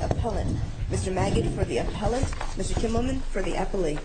Appellant, Mr. Magid for the Appellant, Mr. Kimmelman for the Appellee.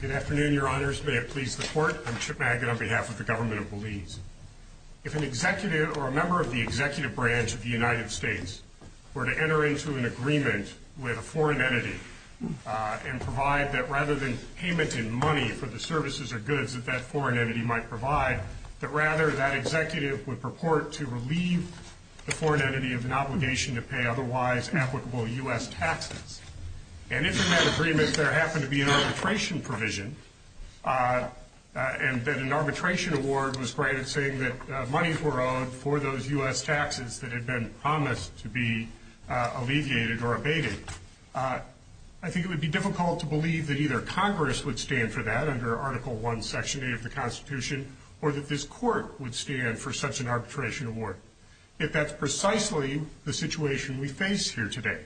Good afternoon, Your Honors. May it please the Court, I'm Chip Magid on behalf of the Government of Belize. If an executive or a member of the executive branch of the United States were to enter into an agreement with a foreign entity and provide that rather than payment in money for the services or goods that that foreign entity might provide, that rather that executive would purport to relieve the foreign entity of an obligation to pay otherwise applicable U.S. taxes, and if in that agreement there happened to be an arbitration provision and that an arbitration award was granted saying that monies were owed for those U.S. taxes that had been promised to be alleviated or abated, I think it would be difficult to believe that either Congress would stand for that under Article 1, Section 8 of the Constitution or that this Court would stand for such an arbitration award. Yet that's precisely the situation we face here today.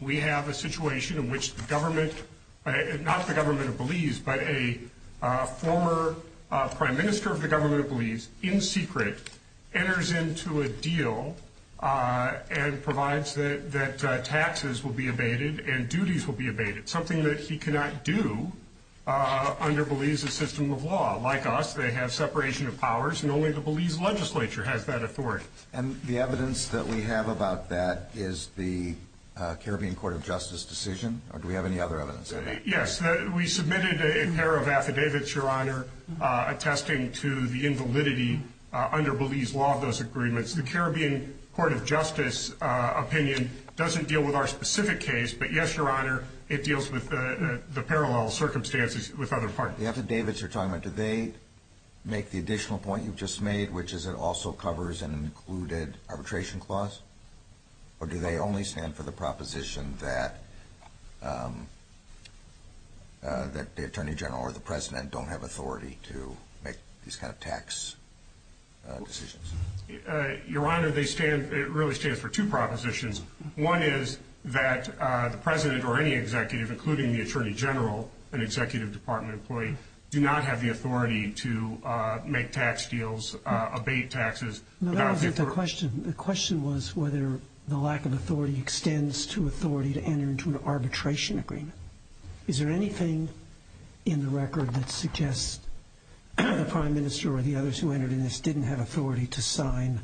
We have a situation in which the government, not the Government of Belize, but a former Prime Minister of the Government of Belize in secret enters into a deal and provides that taxes will be abated and duties will be abated, something that he cannot do under Belize's system of law. Like us, they have separation of powers, and only the Belize legislature has that authority. And the evidence that we have about that is the Caribbean Court of Justice decision, or do we have any other evidence? Yes, we submitted a pair of affidavits, Your Honor, attesting to the invalidity under Belize's law of those agreements. The Caribbean Court of Justice opinion doesn't deal with our specific case, but yes, Your Honor, it deals with the parallel circumstances with other parties. The affidavits you're talking about, do they make the additional point you've just made, which is it also covers an included arbitration clause, or do they only stand for the proposition that the Attorney General or the President don't have authority to make these kind of tax decisions? Your Honor, it really stands for two propositions. One is that the President or any executive, including the Attorney General, an executive department employee, do not have the authority to make tax deals, abate taxes. No, that wasn't the question. The question was whether the lack of authority extends to authority to enter into an arbitration agreement. Is there anything in the record that suggests the Prime Minister or the others who entered in this didn't have authority to sign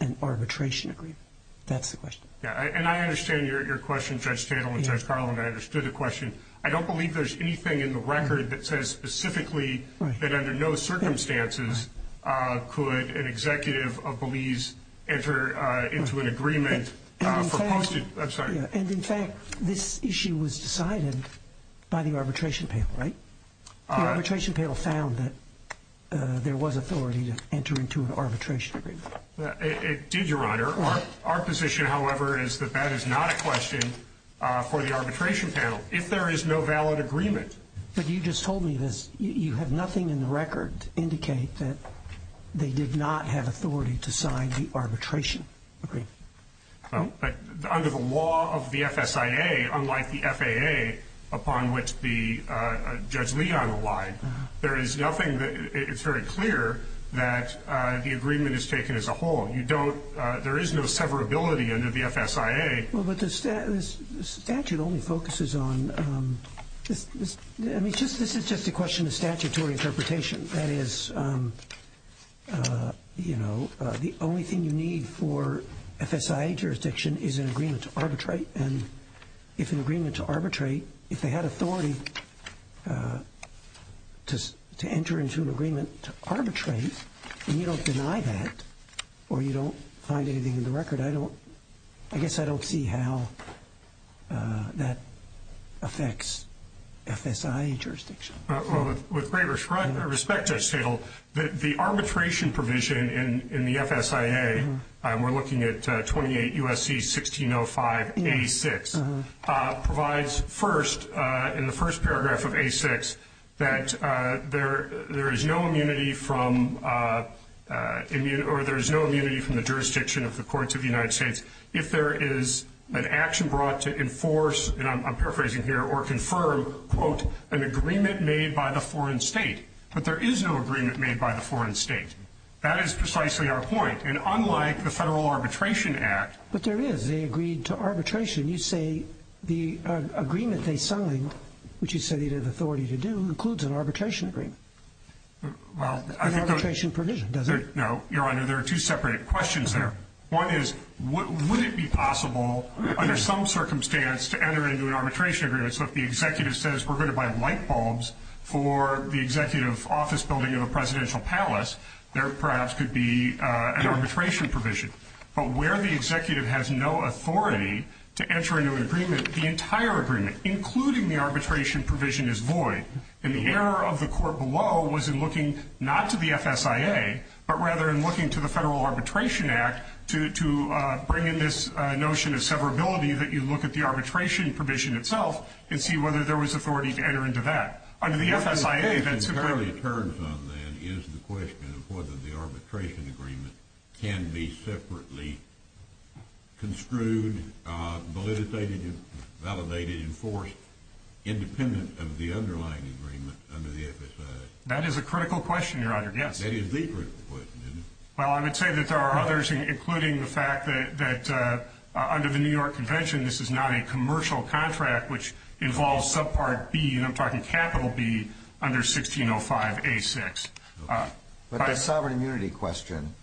an arbitration agreement? That's the question. And I understand your question, Judge Tatel and Judge Carlin. I understood the question. I don't believe there's anything in the record that says specifically that under no circumstances could an executive of Belize enter into an agreement. I'm sorry. And, in fact, this issue was decided by the arbitration panel, right? The arbitration panel found that there was authority to enter into an arbitration agreement. It did, Your Honor. Our position, however, is that that is not a question for the arbitration panel. If there is no valid agreement. But you just told me this. You have nothing in the record to indicate that they did not have authority to sign the arbitration agreement. Under the law of the FSIA, unlike the FAA, upon which Judge Leon relied, there is nothing that it's very clear that the agreement is taken as a whole. There is no severability under the FSIA. Well, but the statute only focuses on this. I mean, this is just a question of statutory interpretation. That is, you know, the only thing you need for FSIA jurisdiction is an agreement to arbitrate. And if an agreement to arbitrate, if they had authority to enter into an agreement to arbitrate, and you don't deny that or you don't find anything in the record, I guess I don't see how that affects FSIA jurisdiction. With great respect, Judge Tittle, the arbitration provision in the FSIA, and we're looking at 28 U.S.C. 1605A6, provides first in the first paragraph of A6 that there is no immunity from the jurisdiction of the courts of the United States if there is an action brought to enforce, and I'm paraphrasing here, or confirm, quote, an agreement made by the foreign state. But there is no agreement made by the foreign state. That is precisely our point. And unlike the Federal Arbitration Act. But there is. They agreed to arbitration. You say the agreement they signed, which you say they had authority to do, includes an arbitration agreement, an arbitration provision, does it? No, Your Honor. There are two separate questions there. One is, would it be possible under some circumstance to enter into an arbitration agreement? So if the executive says we're going to buy light bulbs for the executive office building of a presidential palace, there perhaps could be an arbitration provision. But where the executive has no authority to enter into an agreement, the entire agreement, including the arbitration provision, is void. And the error of the court below was in looking not to the FSIA, but rather in looking to the Federal Arbitration Act to bring in this notion of severability that you look at the arbitration provision itself and see whether there was authority to enter into that. Under the FSIA, that's completely. What the case entirely turns on, then, is the question of whether the arbitration agreement can be separately construed, validated, enforced, independent of the underlying agreement under the FSIA. That is a critical question, Your Honor, yes. That is the critical question, isn't it? Well, I would say that there are others, including the fact that under the New York Convention, this is not a commercial contract which involves subpart B, and I'm talking capital B, under 1605A6. But the sovereign immunity question,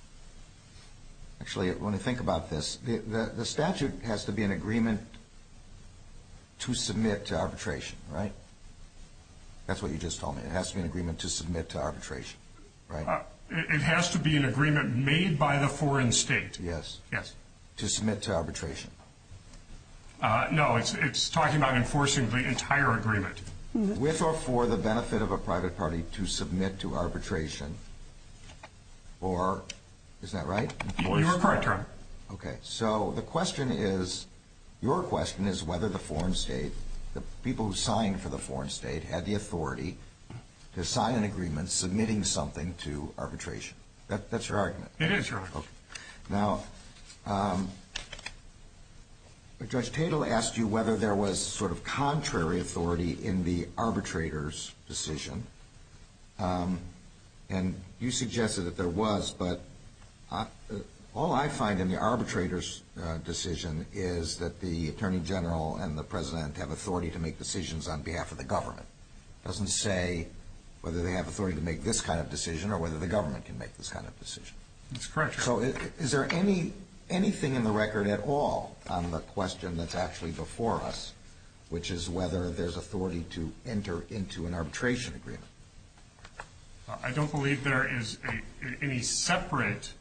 actually, when I think about this, the statute has to be an agreement to submit to arbitration, right? That's what you just told me. It has to be an agreement to submit to arbitration, right? It has to be an agreement made by the foreign state. Yes. Yes. To submit to arbitration. No, it's talking about enforcing the entire agreement. With or for the benefit of a private party to submit to arbitration, or is that right? You are correct, Your Honor. Okay. So the question is, your question is whether the foreign state, the people who signed for the foreign state, had the authority to sign an agreement submitting something to arbitration. That's your argument? It is, Your Honor. Okay. Now, Judge Tatel asked you whether there was sort of contrary authority in the arbitrator's decision, and you suggested that there was, but all I find in the arbitrator's decision is that the Attorney General and the President have authority to make decisions on behalf of the government. It doesn't say whether they have authority to make this kind of decision or whether the government can make this kind of decision. That's correct, Your Honor. So is there anything in the record at all on the question that's actually before us, which is whether there's authority to enter into an arbitration agreement? I don't believe there is any separate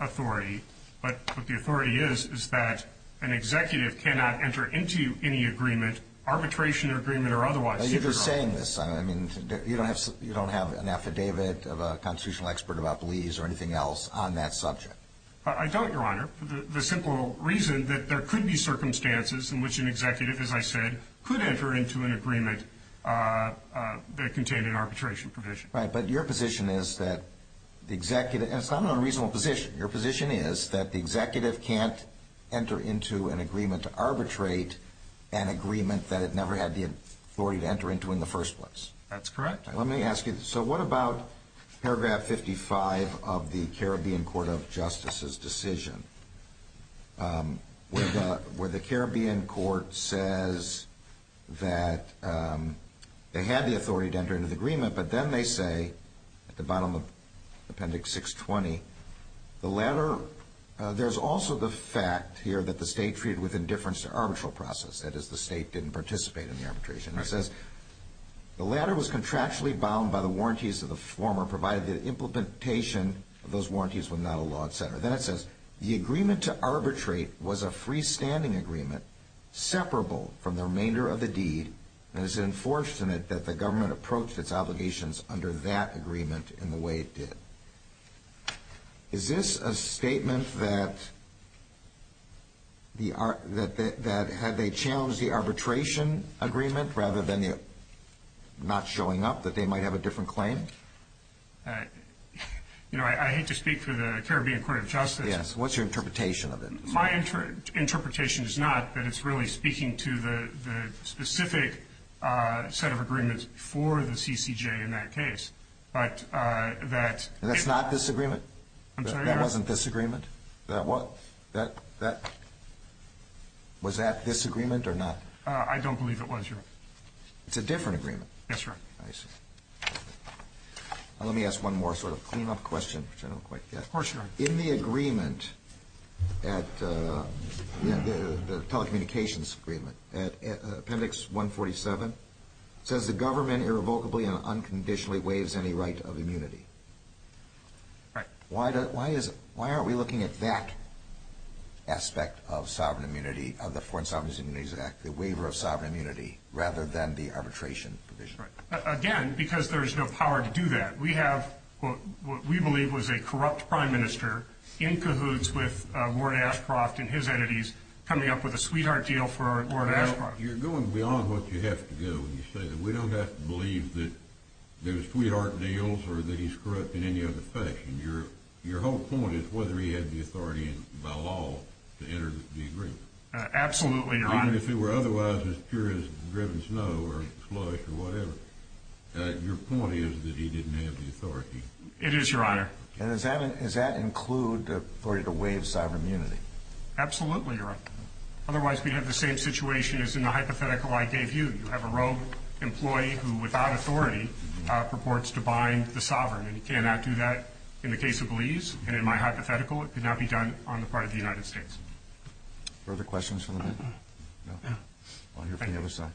authority, but what the authority is is that an executive cannot enter into any agreement, arbitration agreement, or otherwise. Now, you're just saying this. I mean, you don't have an affidavit of a constitutional expert about Belize or anything else on that subject. I don't, Your Honor, for the simple reason that there could be circumstances in which an executive, as I said, could enter into an agreement that contained an arbitration provision. Right, but your position is that the executive, and it's not an unreasonable position. Your position is that the executive can't enter into an agreement to arbitrate an agreement that it never had the authority to enter into in the first place. That's correct. Let me ask you, so what about paragraph 55 of the Caribbean Court of Justice's decision, where the Caribbean Court says that they had the authority to enter into the agreement, but then they say at the bottom of appendix 620, the latter, there's also the fact here that the state treated with indifference to arbitral process. That is, the state didn't participate in the arbitration. It says, the latter was contractually bound by the warranties of the former, provided the implementation of those warranties were not a law, et cetera. Then it says, the agreement to arbitrate was a freestanding agreement, separable from the remainder of the deed, and it's enforced in it that the government approached its obligations under that agreement in the way it did. Is this a statement that had they challenged the arbitration agreement rather than it not showing up, that they might have a different claim? You know, I hate to speak for the Caribbean Court of Justice. Yes, what's your interpretation of it? My interpretation is not that it's really speaking to the specific set of agreements for the CCJ in that case, but that ‑‑ And that's not this agreement? I'm sorry? That wasn't this agreement? That was? Was that this agreement or not? I don't believe it was, Your Honor. It's a different agreement? Yes, Your Honor. I see. Let me ask one more sort of clean-up question, which I don't quite get. Of course, Your Honor. In the agreement, the telecommunications agreement, appendix 147, it says the government irrevocably and unconditionally waives any right of immunity. Right. Why aren't we looking at that aspect of sovereign immunity, of the Foreign Sovereign Immunities Act, the waiver of sovereign immunity, rather than the arbitration provision? Right. Again, because there's no power to do that. We have what we believe was a corrupt prime minister in cahoots with Ward Ashcroft and his entities coming up with a sweetheart deal for Ward Ashcroft. You're going beyond what you have to go when you say that. We don't have to believe that there's sweetheart deals or that he's corrupt in any other fashion. Your whole point is whether he had the authority by law to enter the agreement. Absolutely, Your Honor. Even if it were otherwise as pure as driven snow or slush or whatever, your point is that he didn't have the authority. It is, Your Honor. And does that include the authority to waive sovereign immunity? Absolutely, Your Honor. Otherwise, we'd have the same situation as in the hypothetical I gave you. You have a rogue employee who, without authority, purports to bind the sovereign, and he cannot do that in the case of Lee's. And in my hypothetical, it could not be done on the part of the United States. Further questions from the panel? No? I'll hear from the other side.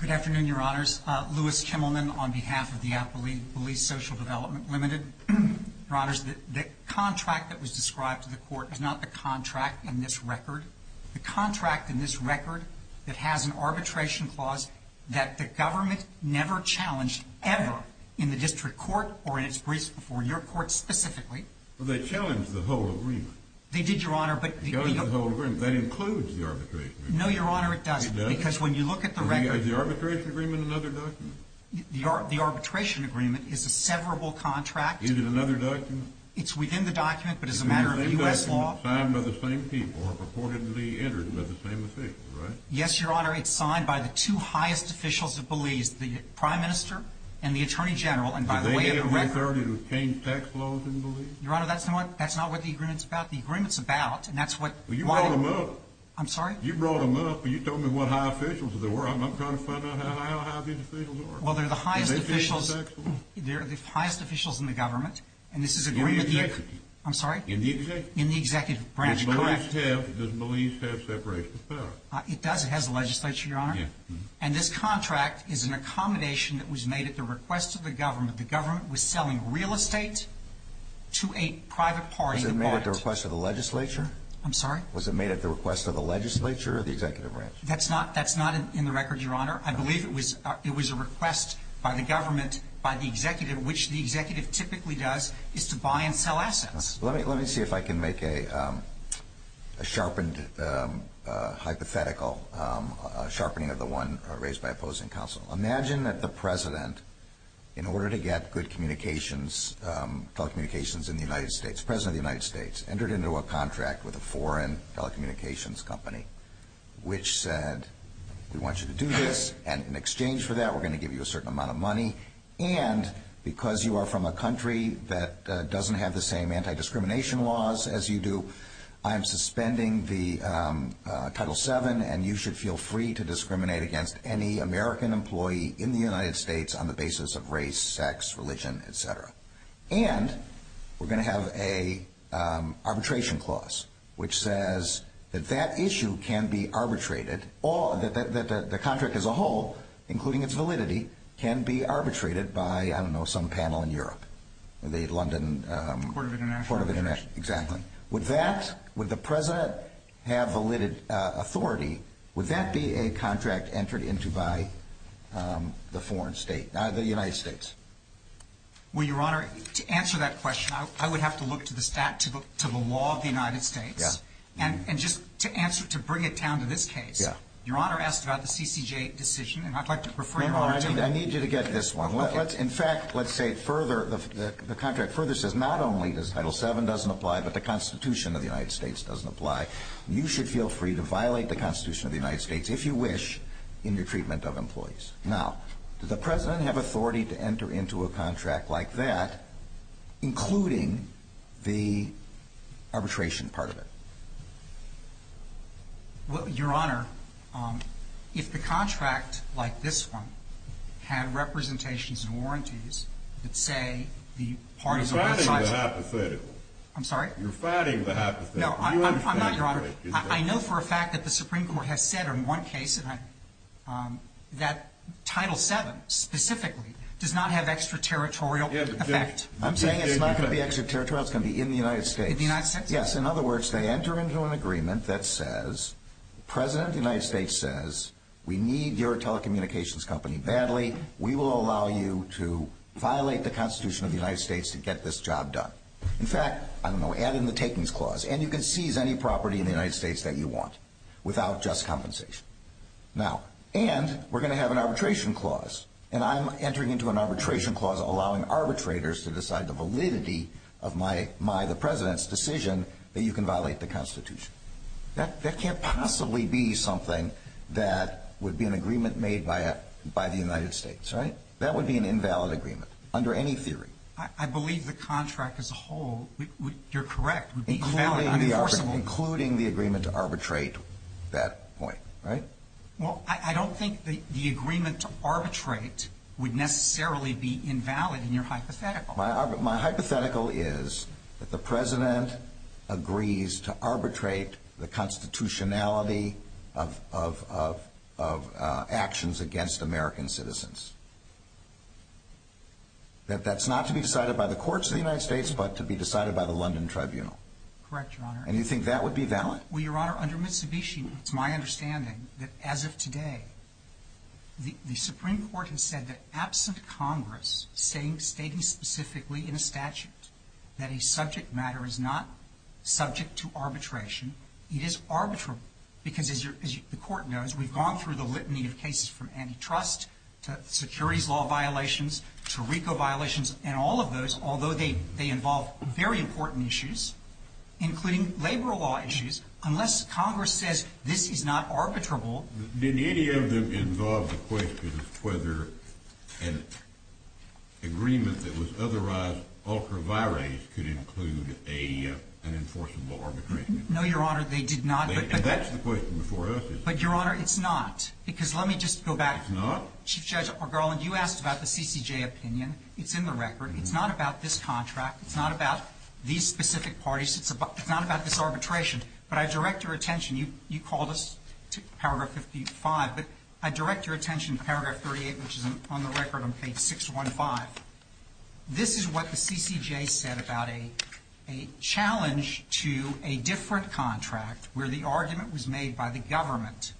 Good afternoon, Your Honors. Louis Kimmelman on behalf of the Appellee Police Social Development Limited. Your Honors, the contract that was described to the court is not the contract in this record. The contract in this record that has an arbitration clause that the government never challenged ever in the district court or in its briefs before your court specifically. Well, they challenged the whole agreement. They did, Your Honor. They challenged the whole agreement. That includes the arbitration agreement. No, Your Honor, it doesn't. It doesn't? Because when you look at the record. Is the arbitration agreement another document? The arbitration agreement is a severable contract. Is it another document? It's within the document, but as a matter of U.S. law. Signed by the same people or purportedly entered by the same officials, right? Yes, Your Honor. It's signed by the two highest officials of Belize, the Prime Minister and the Attorney General. Did they have the authority to change tax laws in Belize? Your Honor, that's not what the agreement's about. The agreement's about, and that's what... Well, you brought them up. I'm sorry? You brought them up, and you told me what high officials there were. I'm trying to find out how high the officials are. Well, they're the highest officials. They changed the tax laws. They're the highest officials in the government, and this is agreement... In the executive. I'm sorry? In the executive. In the executive branch, correct. Does Belize have separation of power? It does. It has a legislature, Your Honor. And this contract is an accommodation that was made at the request of the government. The government was selling real estate to a private party. Was it made at the request of the legislature? I'm sorry? Was it made at the request of the legislature or the executive branch? That's not in the record, Your Honor. I believe it was a request by the government, by the executive, which the executive typically does, is to buy and sell assets. Let me see if I can make a sharpened hypothetical, a sharpening of the one raised by opposing counsel. Imagine that the president, in order to get good telecommunications in the United States, the president of the United States entered into a contract with a foreign telecommunications company, which said, we want you to do this, and in exchange for that, and because you are from a country that doesn't have the same anti-discrimination laws as you do, I'm suspending the Title VII, and you should feel free to discriminate against any American employee in the United States on the basis of race, sex, religion, et cetera. And we're going to have an arbitration clause, which says that that issue can be arbitrated, that the contract as a whole, including its validity, can be arbitrated by, I don't know, some panel in Europe, the London Court of International Affairs. Exactly. Would that, would the president have valid authority, would that be a contract entered into by the foreign state, the United States? Well, Your Honor, to answer that question, I would have to look to the stat, and just to answer, to bring it down to this case, Your Honor asked about the CCJ decision, and I'd like to refer Your Honor to that. No, no, I need you to get this one. In fact, let's say it further, the contract further says not only does Title VII doesn't apply, but the Constitution of the United States doesn't apply. You should feel free to violate the Constitution of the United States, if you wish, in your treatment of employees. Now, does the president have authority to enter into a contract like that, including the arbitration part of it? Well, Your Honor, if the contract, like this one, had representations and warranties that say the parties of both sides. You're fighting the hypothetical. I'm sorry? You're fighting the hypothetical. No, I'm not, Your Honor. I know for a fact that the Supreme Court has said in one case that Title VII specifically does not have extraterritorial effect. I'm saying it's not going to be extraterritorial. It's going to be in the United States. In the United States? Yes. In other words, they enter into an agreement that says, the President of the United States says, we need your telecommunications company badly. We will allow you to violate the Constitution of the United States to get this job done. In fact, I don't know, add in the takings clause, and you can seize any property in the United States that you want without just compensation. Now, and we're going to have an arbitration clause, and I'm entering into an arbitration clause allowing arbitrators to decide the validity of my, the President's decision that you can violate the Constitution. That can't possibly be something that would be an agreement made by the United States, right? That would be an invalid agreement under any theory. I believe the contract as a whole, you're correct, would be invalid, unenforceable. Including the agreement to arbitrate that point, right? Well, I don't think the agreement to arbitrate would necessarily be invalid in your hypothetical. My hypothetical is that the President agrees to arbitrate the constitutionality of actions against American citizens. That that's not to be decided by the courts of the United States, but to be decided by the London Tribunal. Correct, Your Honor. And you think that would be valid? Well, Your Honor, under Mitsubishi, it's my understanding that as of today, the Supreme Court has said that absent Congress stating specifically in a statute that a subject matter is not subject to arbitration, it is arbitrable. Because as the Court knows, we've gone through the litany of cases from antitrust to securities law violations to RICO violations, and all of those, although they involve very important issues, including labor law issues, unless Congress says this is not arbitrable. Did any of them involve the question of whether an agreement that was otherwise ultra vires could include an enforceable arbitration? No, Your Honor, they did not. And that's the question before us. But, Your Honor, it's not. Because let me just go back. It's not? Chief Judge Garland, you asked about the CCJ opinion. It's in the record. It's not about this contract. It's not about these specific parties. It's not about this arbitration. But I direct your attention. You called us to paragraph 55. But I direct your attention to paragraph 38, which is on the record on page 615. This is what the CCJ said about a challenge to a different contract where the argument was made by the government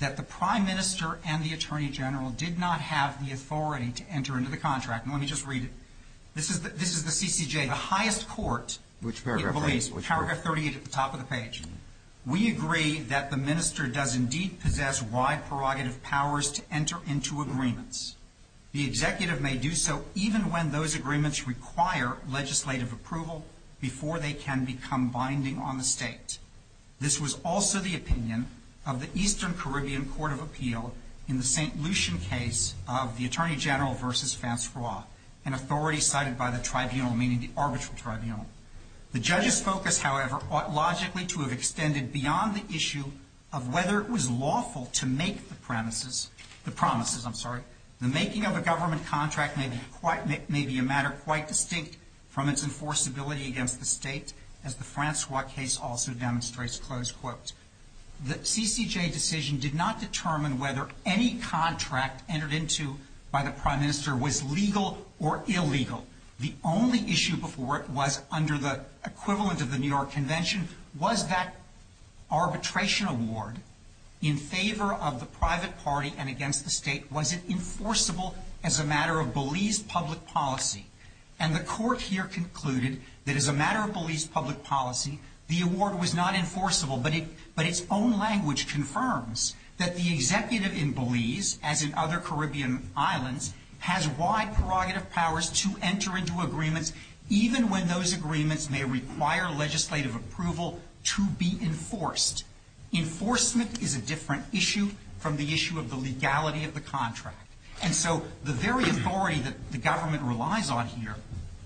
that the Prime Minister and the Attorney General did not have the authority to enter into the contract. And let me just read it. This is the CCJ, the highest court. Which paragraph? Paragraph 38 at the top of the page. We agree that the minister does indeed possess wide prerogative powers to enter into agreements. The executive may do so even when those agreements require legislative approval before they can become binding on the state. This was also the opinion of the Eastern Caribbean Court of Appeal in the St. Francois, an authority cited by the tribunal, meaning the arbitral tribunal. The judge's focus, however, ought logically to have extended beyond the issue of whether it was lawful to make the premises, the promises, I'm sorry, the making of a government contract may be a matter quite distinct from its enforceability against the state, as the Francois case also demonstrates, close quote. The CCJ decision did not determine whether any contract entered into by the state was legal or illegal. The only issue before it was under the equivalent of the New York Convention was that arbitration award in favor of the private party and against the state wasn't enforceable as a matter of Belize public policy. And the court here concluded that as a matter of Belize public policy, the award was not enforceable. But its own language confirms that the executive in Belize, as in other states, has the right prerogative powers to enter into agreements even when those agreements may require legislative approval to be enforced. Enforcement is a different issue from the issue of the legality of the contract. And so the very authority that the government relies on here,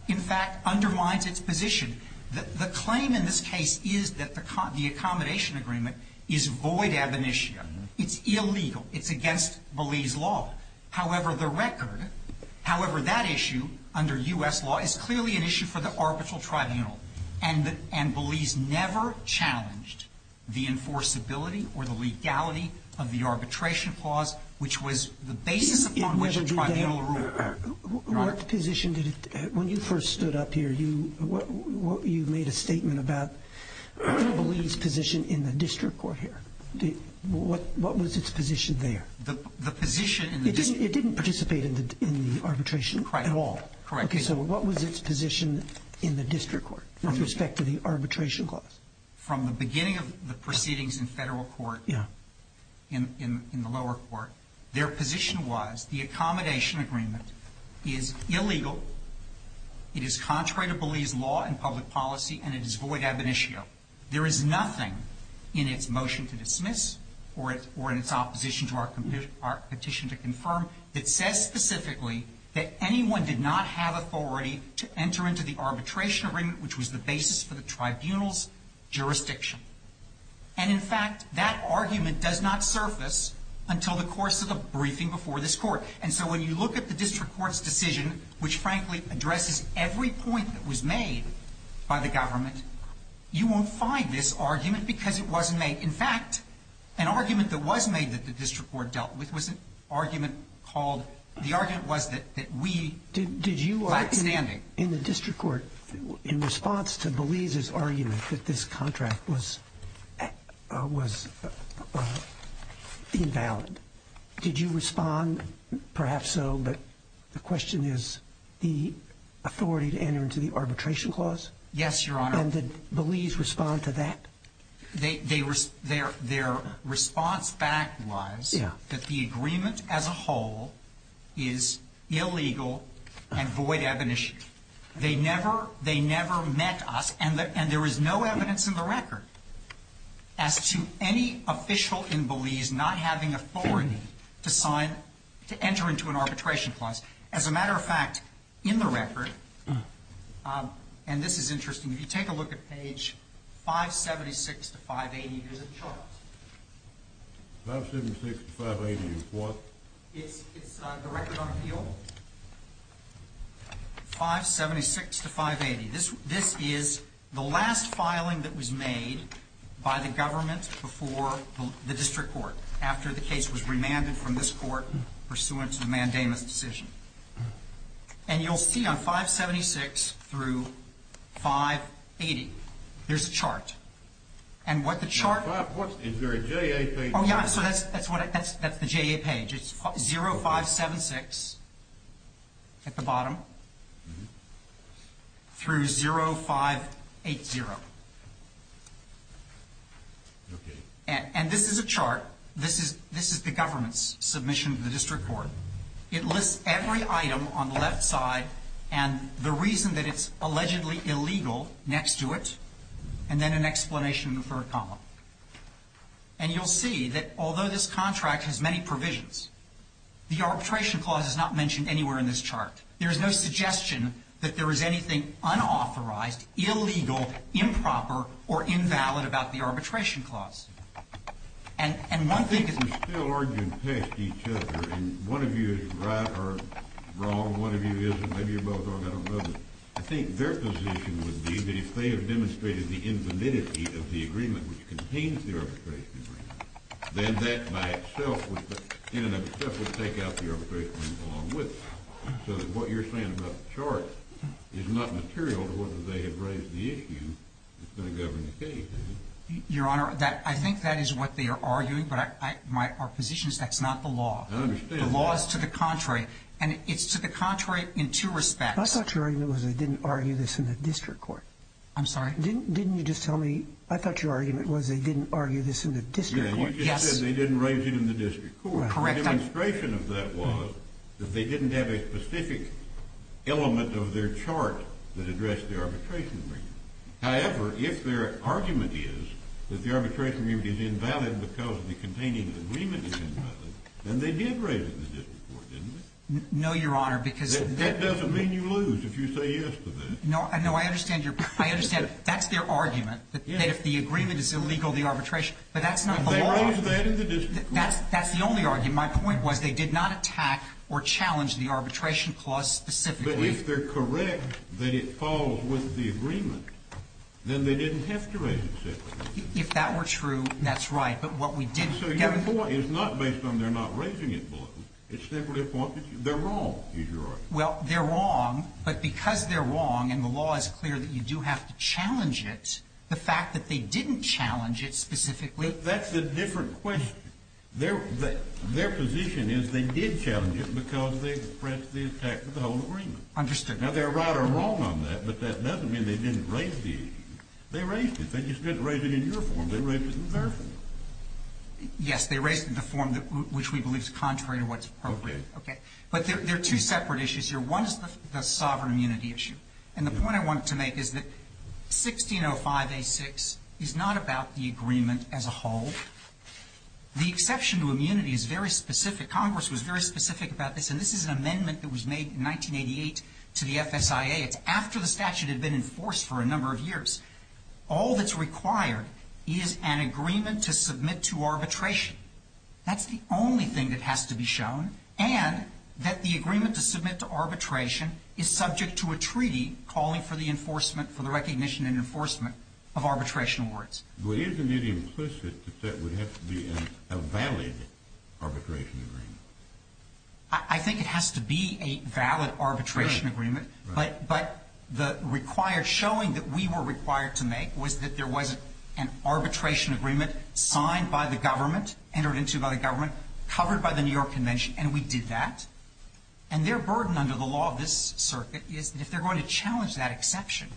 in fact, undermines its position. The claim in this case is that the accommodation agreement is void ab initio. It's illegal. It's against Belize law. However, the record, however, that issue under U.S. law is clearly an issue for the arbitral tribunal. And Belize never challenged the enforceability or the legality of the arbitration clause, which was the basis upon which a tribunal ruled. What position did it – when you first stood up here, you made a statement about Belize's position in the district court here. What was its position there? It didn't participate in the arbitration at all. Correct. So what was its position in the district court with respect to the arbitration clause? From the beginning of the proceedings in federal court, in the lower court, their position was the accommodation agreement is illegal, it is contrary to Belize law and public policy, and it is void ab initio. There is nothing in its motion to dismiss or in its opposition to our petition to confirm that says specifically that anyone did not have authority to enter into the arbitration agreement, which was the basis for the tribunal's jurisdiction. And in fact, that argument does not surface until the course of the briefing before this court. And so when you look at the district court's decision, which frankly addresses every point that was made by the government, you won't find this argument because it wasn't made. In fact, an argument that was made that the district court dealt with was an argument called – the argument was that we – Did you – Lackstanding. In the district court, in response to Belize's argument that this contract was invalid, did you respond, perhaps so, but the question is, the effect of the arbitration clause? Yes, Your Honor. And did Belize respond to that? They – their response back was that the agreement as a whole is illegal and void ab initio. They never – they never met us, and there is no evidence in the record as to any official in Belize not having authority to sign – to enter into an arbitration clause. As a matter of fact, in the record – and this is interesting – if you take a look at page 576 to 580, there's a chart. 576 to 580 is what? It's – it's the record on appeal. 576 to 580. This – this is the last filing that was made by the government before the district court, after the case was remanded from this court pursuant to the mandamus decision. And you'll see on 576 through 580, there's a chart. And what the chart – Is there a JA page? Oh, yeah. So that's – that's what – that's the JA page. It's 0576 at the bottom through 0580. Okay. And this is a chart. This is – this is the government's submission to the district court. It lists every item on the left side and the reason that it's allegedly illegal next to it, and then an explanation for a column. And you'll see that although this contract has many provisions, the arbitration clause is not mentioned anywhere in this chart. There is no suggestion that there is anything unauthorized, illegal, improper, or invalid about the arbitration clause. And – and one thing is – I think they're still arguing past each other, and one of you is right or wrong, one of you isn't, maybe you're both wrong, I don't know, but I think their position would be that if they have demonstrated the invalidity of the agreement which contains the arbitration agreement, then that by itself would – in and of itself would take out the arbitration agreement along with it. So that what you're saying about the chart is not material to whether they have raised the issue that's going to govern the case, is it? Your Honor, that – I think that is what they are arguing, but I – my – our position is that's not the law. I understand that. The law is to the contrary. And it's to the contrary in two respects. I thought your argument was they didn't argue this in the district court. I'm sorry? Didn't – didn't you just tell me – I thought your argument was they didn't argue this in the district court. Yes. You just said they didn't raise it in the district court. Correct. The demonstration of that was that they didn't have a specific element of their chart that addressed the arbitration agreement. However, if their argument is that the arbitration agreement is invalid because the containing of the agreement is invalid, then they did raise it in the district court, didn't they? No, Your Honor, because – That doesn't mean you lose if you say yes to that. No, I know. I understand your – I understand. That's their argument, that if the agreement is illegal, the arbitration – but that's not the law. But they raised that in the district court. That's the only argument. My point was they did not attack or challenge the arbitration clause specifically. But if they're correct that it falls with the agreement, then they didn't have to raise it separately. If that were true, that's right. But what we did – So your point is not based on they're not raising it below. It's simply a point that they're wrong, is your argument. Well, they're wrong, but because they're wrong and the law is clear that you do have to challenge it, the fact that they didn't challenge it specifically – But that's a different question. Their position is they did challenge it because they pressed the attack to the whole agreement. Understood. Now, they're right or wrong on that, but that doesn't mean they didn't raise the issue. They raised it. They just didn't raise it in your form. They raised it in their form. Yes. They raised it in the form which we believe is contrary to what's appropriate. Okay. But there are two separate issues here. One is the sovereign immunity issue. And the point I wanted to make is that 1605a6 is not about the agreement as a whole. The exception to immunity is very specific. Congress was very specific about this, and this is an amendment that was made in 1988 to the FSIA. It's after the statute had been enforced for a number of years. All that's required is an agreement to submit to arbitration. That's the only thing that has to be shown, and that the agreement to submit to arbitration is subject to a treaty calling for the enforcement, for the recognition and enforcement of arbitration awards. Well, isn't it implicit that that would have to be a valid arbitration agreement? I think it has to be a valid arbitration agreement. Right. But the required showing that we were required to make was that there was an arbitration agreement signed by the government, entered into by the government, covered by the New York Convention, and we did that. And their burden under the law of this circuit is that if they're going to challenge that exception,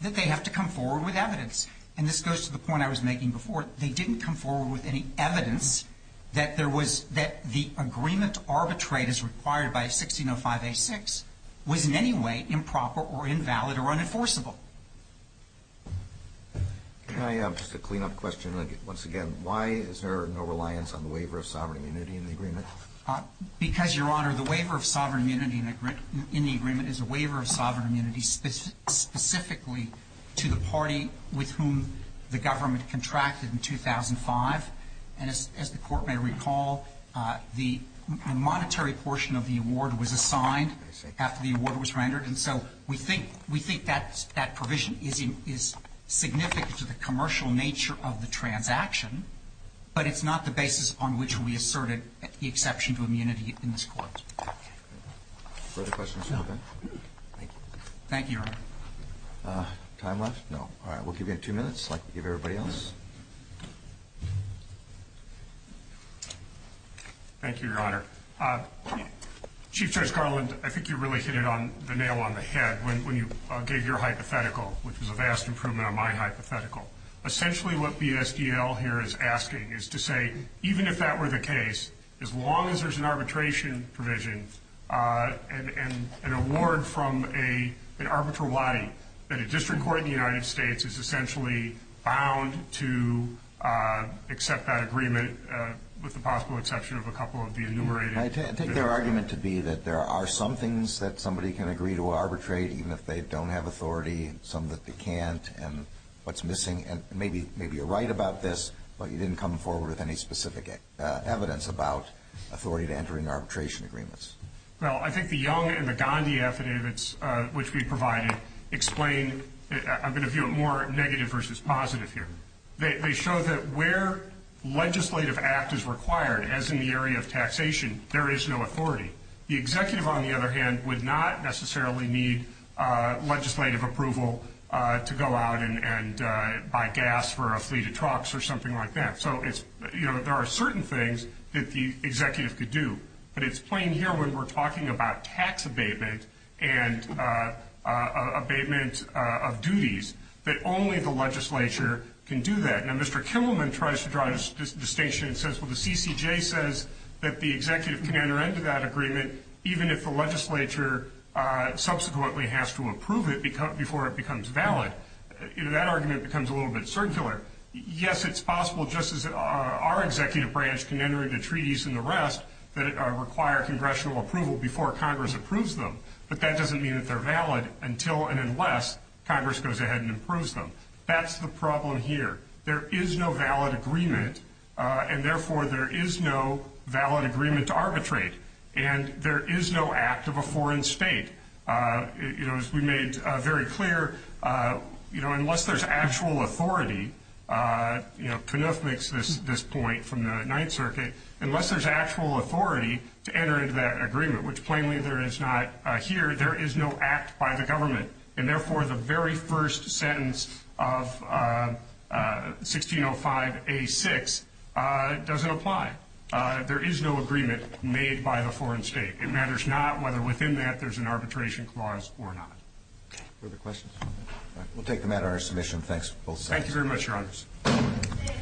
that they have to come forward with evidence. And this goes to the point I was making before. They didn't come forward with any evidence that there was the agreement to arbitrate as required by 1605A6 was in any way improper or invalid or unenforceable. Can I just a clean-up question once again? Why is there no reliance on the waiver of sovereign immunity in the agreement? Because, Your Honor, the waiver of sovereign immunity in the agreement is a waiver of government contracted in 2005. And as the Court may recall, the monetary portion of the award was assigned after the award was rendered. And so we think that provision is significant to the commercial nature of the transaction, but it's not the basis on which we asserted the exception to immunity in this Court. Further questions from the bench? Thank you. Thank you, Your Honor. Time left? No. All right. We'll give you two minutes. I'd like to give everybody else. Thank you, Your Honor. Chief Judge Garland, I think you really hit it on the nail on the head when you gave your hypothetical, which was a vast improvement on my hypothetical. Essentially what BSDL here is asking is to say, even if that were the case, as long as there's an arbitration provision and an award from an arbitratory body, that a district court in the United States is essentially bound to accept that agreement with the possible exception of a couple of the enumerated. I take their argument to be that there are some things that somebody can agree to arbitrate, even if they don't have authority, some that they can't, and what's missing. And maybe you're right about this, but you didn't come forward with any specific evidence about authority to enter into arbitration agreements. Well, I think the Young and the Gandhi affidavits, which we provided, explain. I'm going to view it more negative versus positive here. They show that where legislative act is required, as in the area of taxation, there is no authority. The executive, on the other hand, would not necessarily need legislative approval to go out and buy gas for a fleet of trucks or something like that. So there are certain things that the executive could do. But it's plain here, when we're talking about tax abatement and abatement of duties, that only the legislature can do that. Now, Mr. Kimmelman tries to draw a distinction and says, well, the CCJ says that the executive can enter into that agreement even if the legislature subsequently has to approve it before it becomes valid. That argument becomes a little bit circular. Yes, it's possible just as our executive branch can enter into treaties and the rest that require congressional approval before Congress approves them. But that doesn't mean that they're valid until and unless Congress goes ahead and approves them. That's the problem here. There is no valid agreement, and therefore there is no valid agreement to arbitrate. And there is no act of a foreign state. As we made very clear, unless there's actual authority, Knuth makes this point from the Ninth Circuit, unless there's actual authority to enter into that agreement, which plainly there is not here, there is no act by the government. And, therefore, the very first sentence of 1605A6 doesn't apply. There is no agreement made by the foreign state. It matters not whether within that there's an arbitration clause or not. Further questions? All right. We'll take the matter under submission. Thanks to both sides. Thank you very much, Your Honors.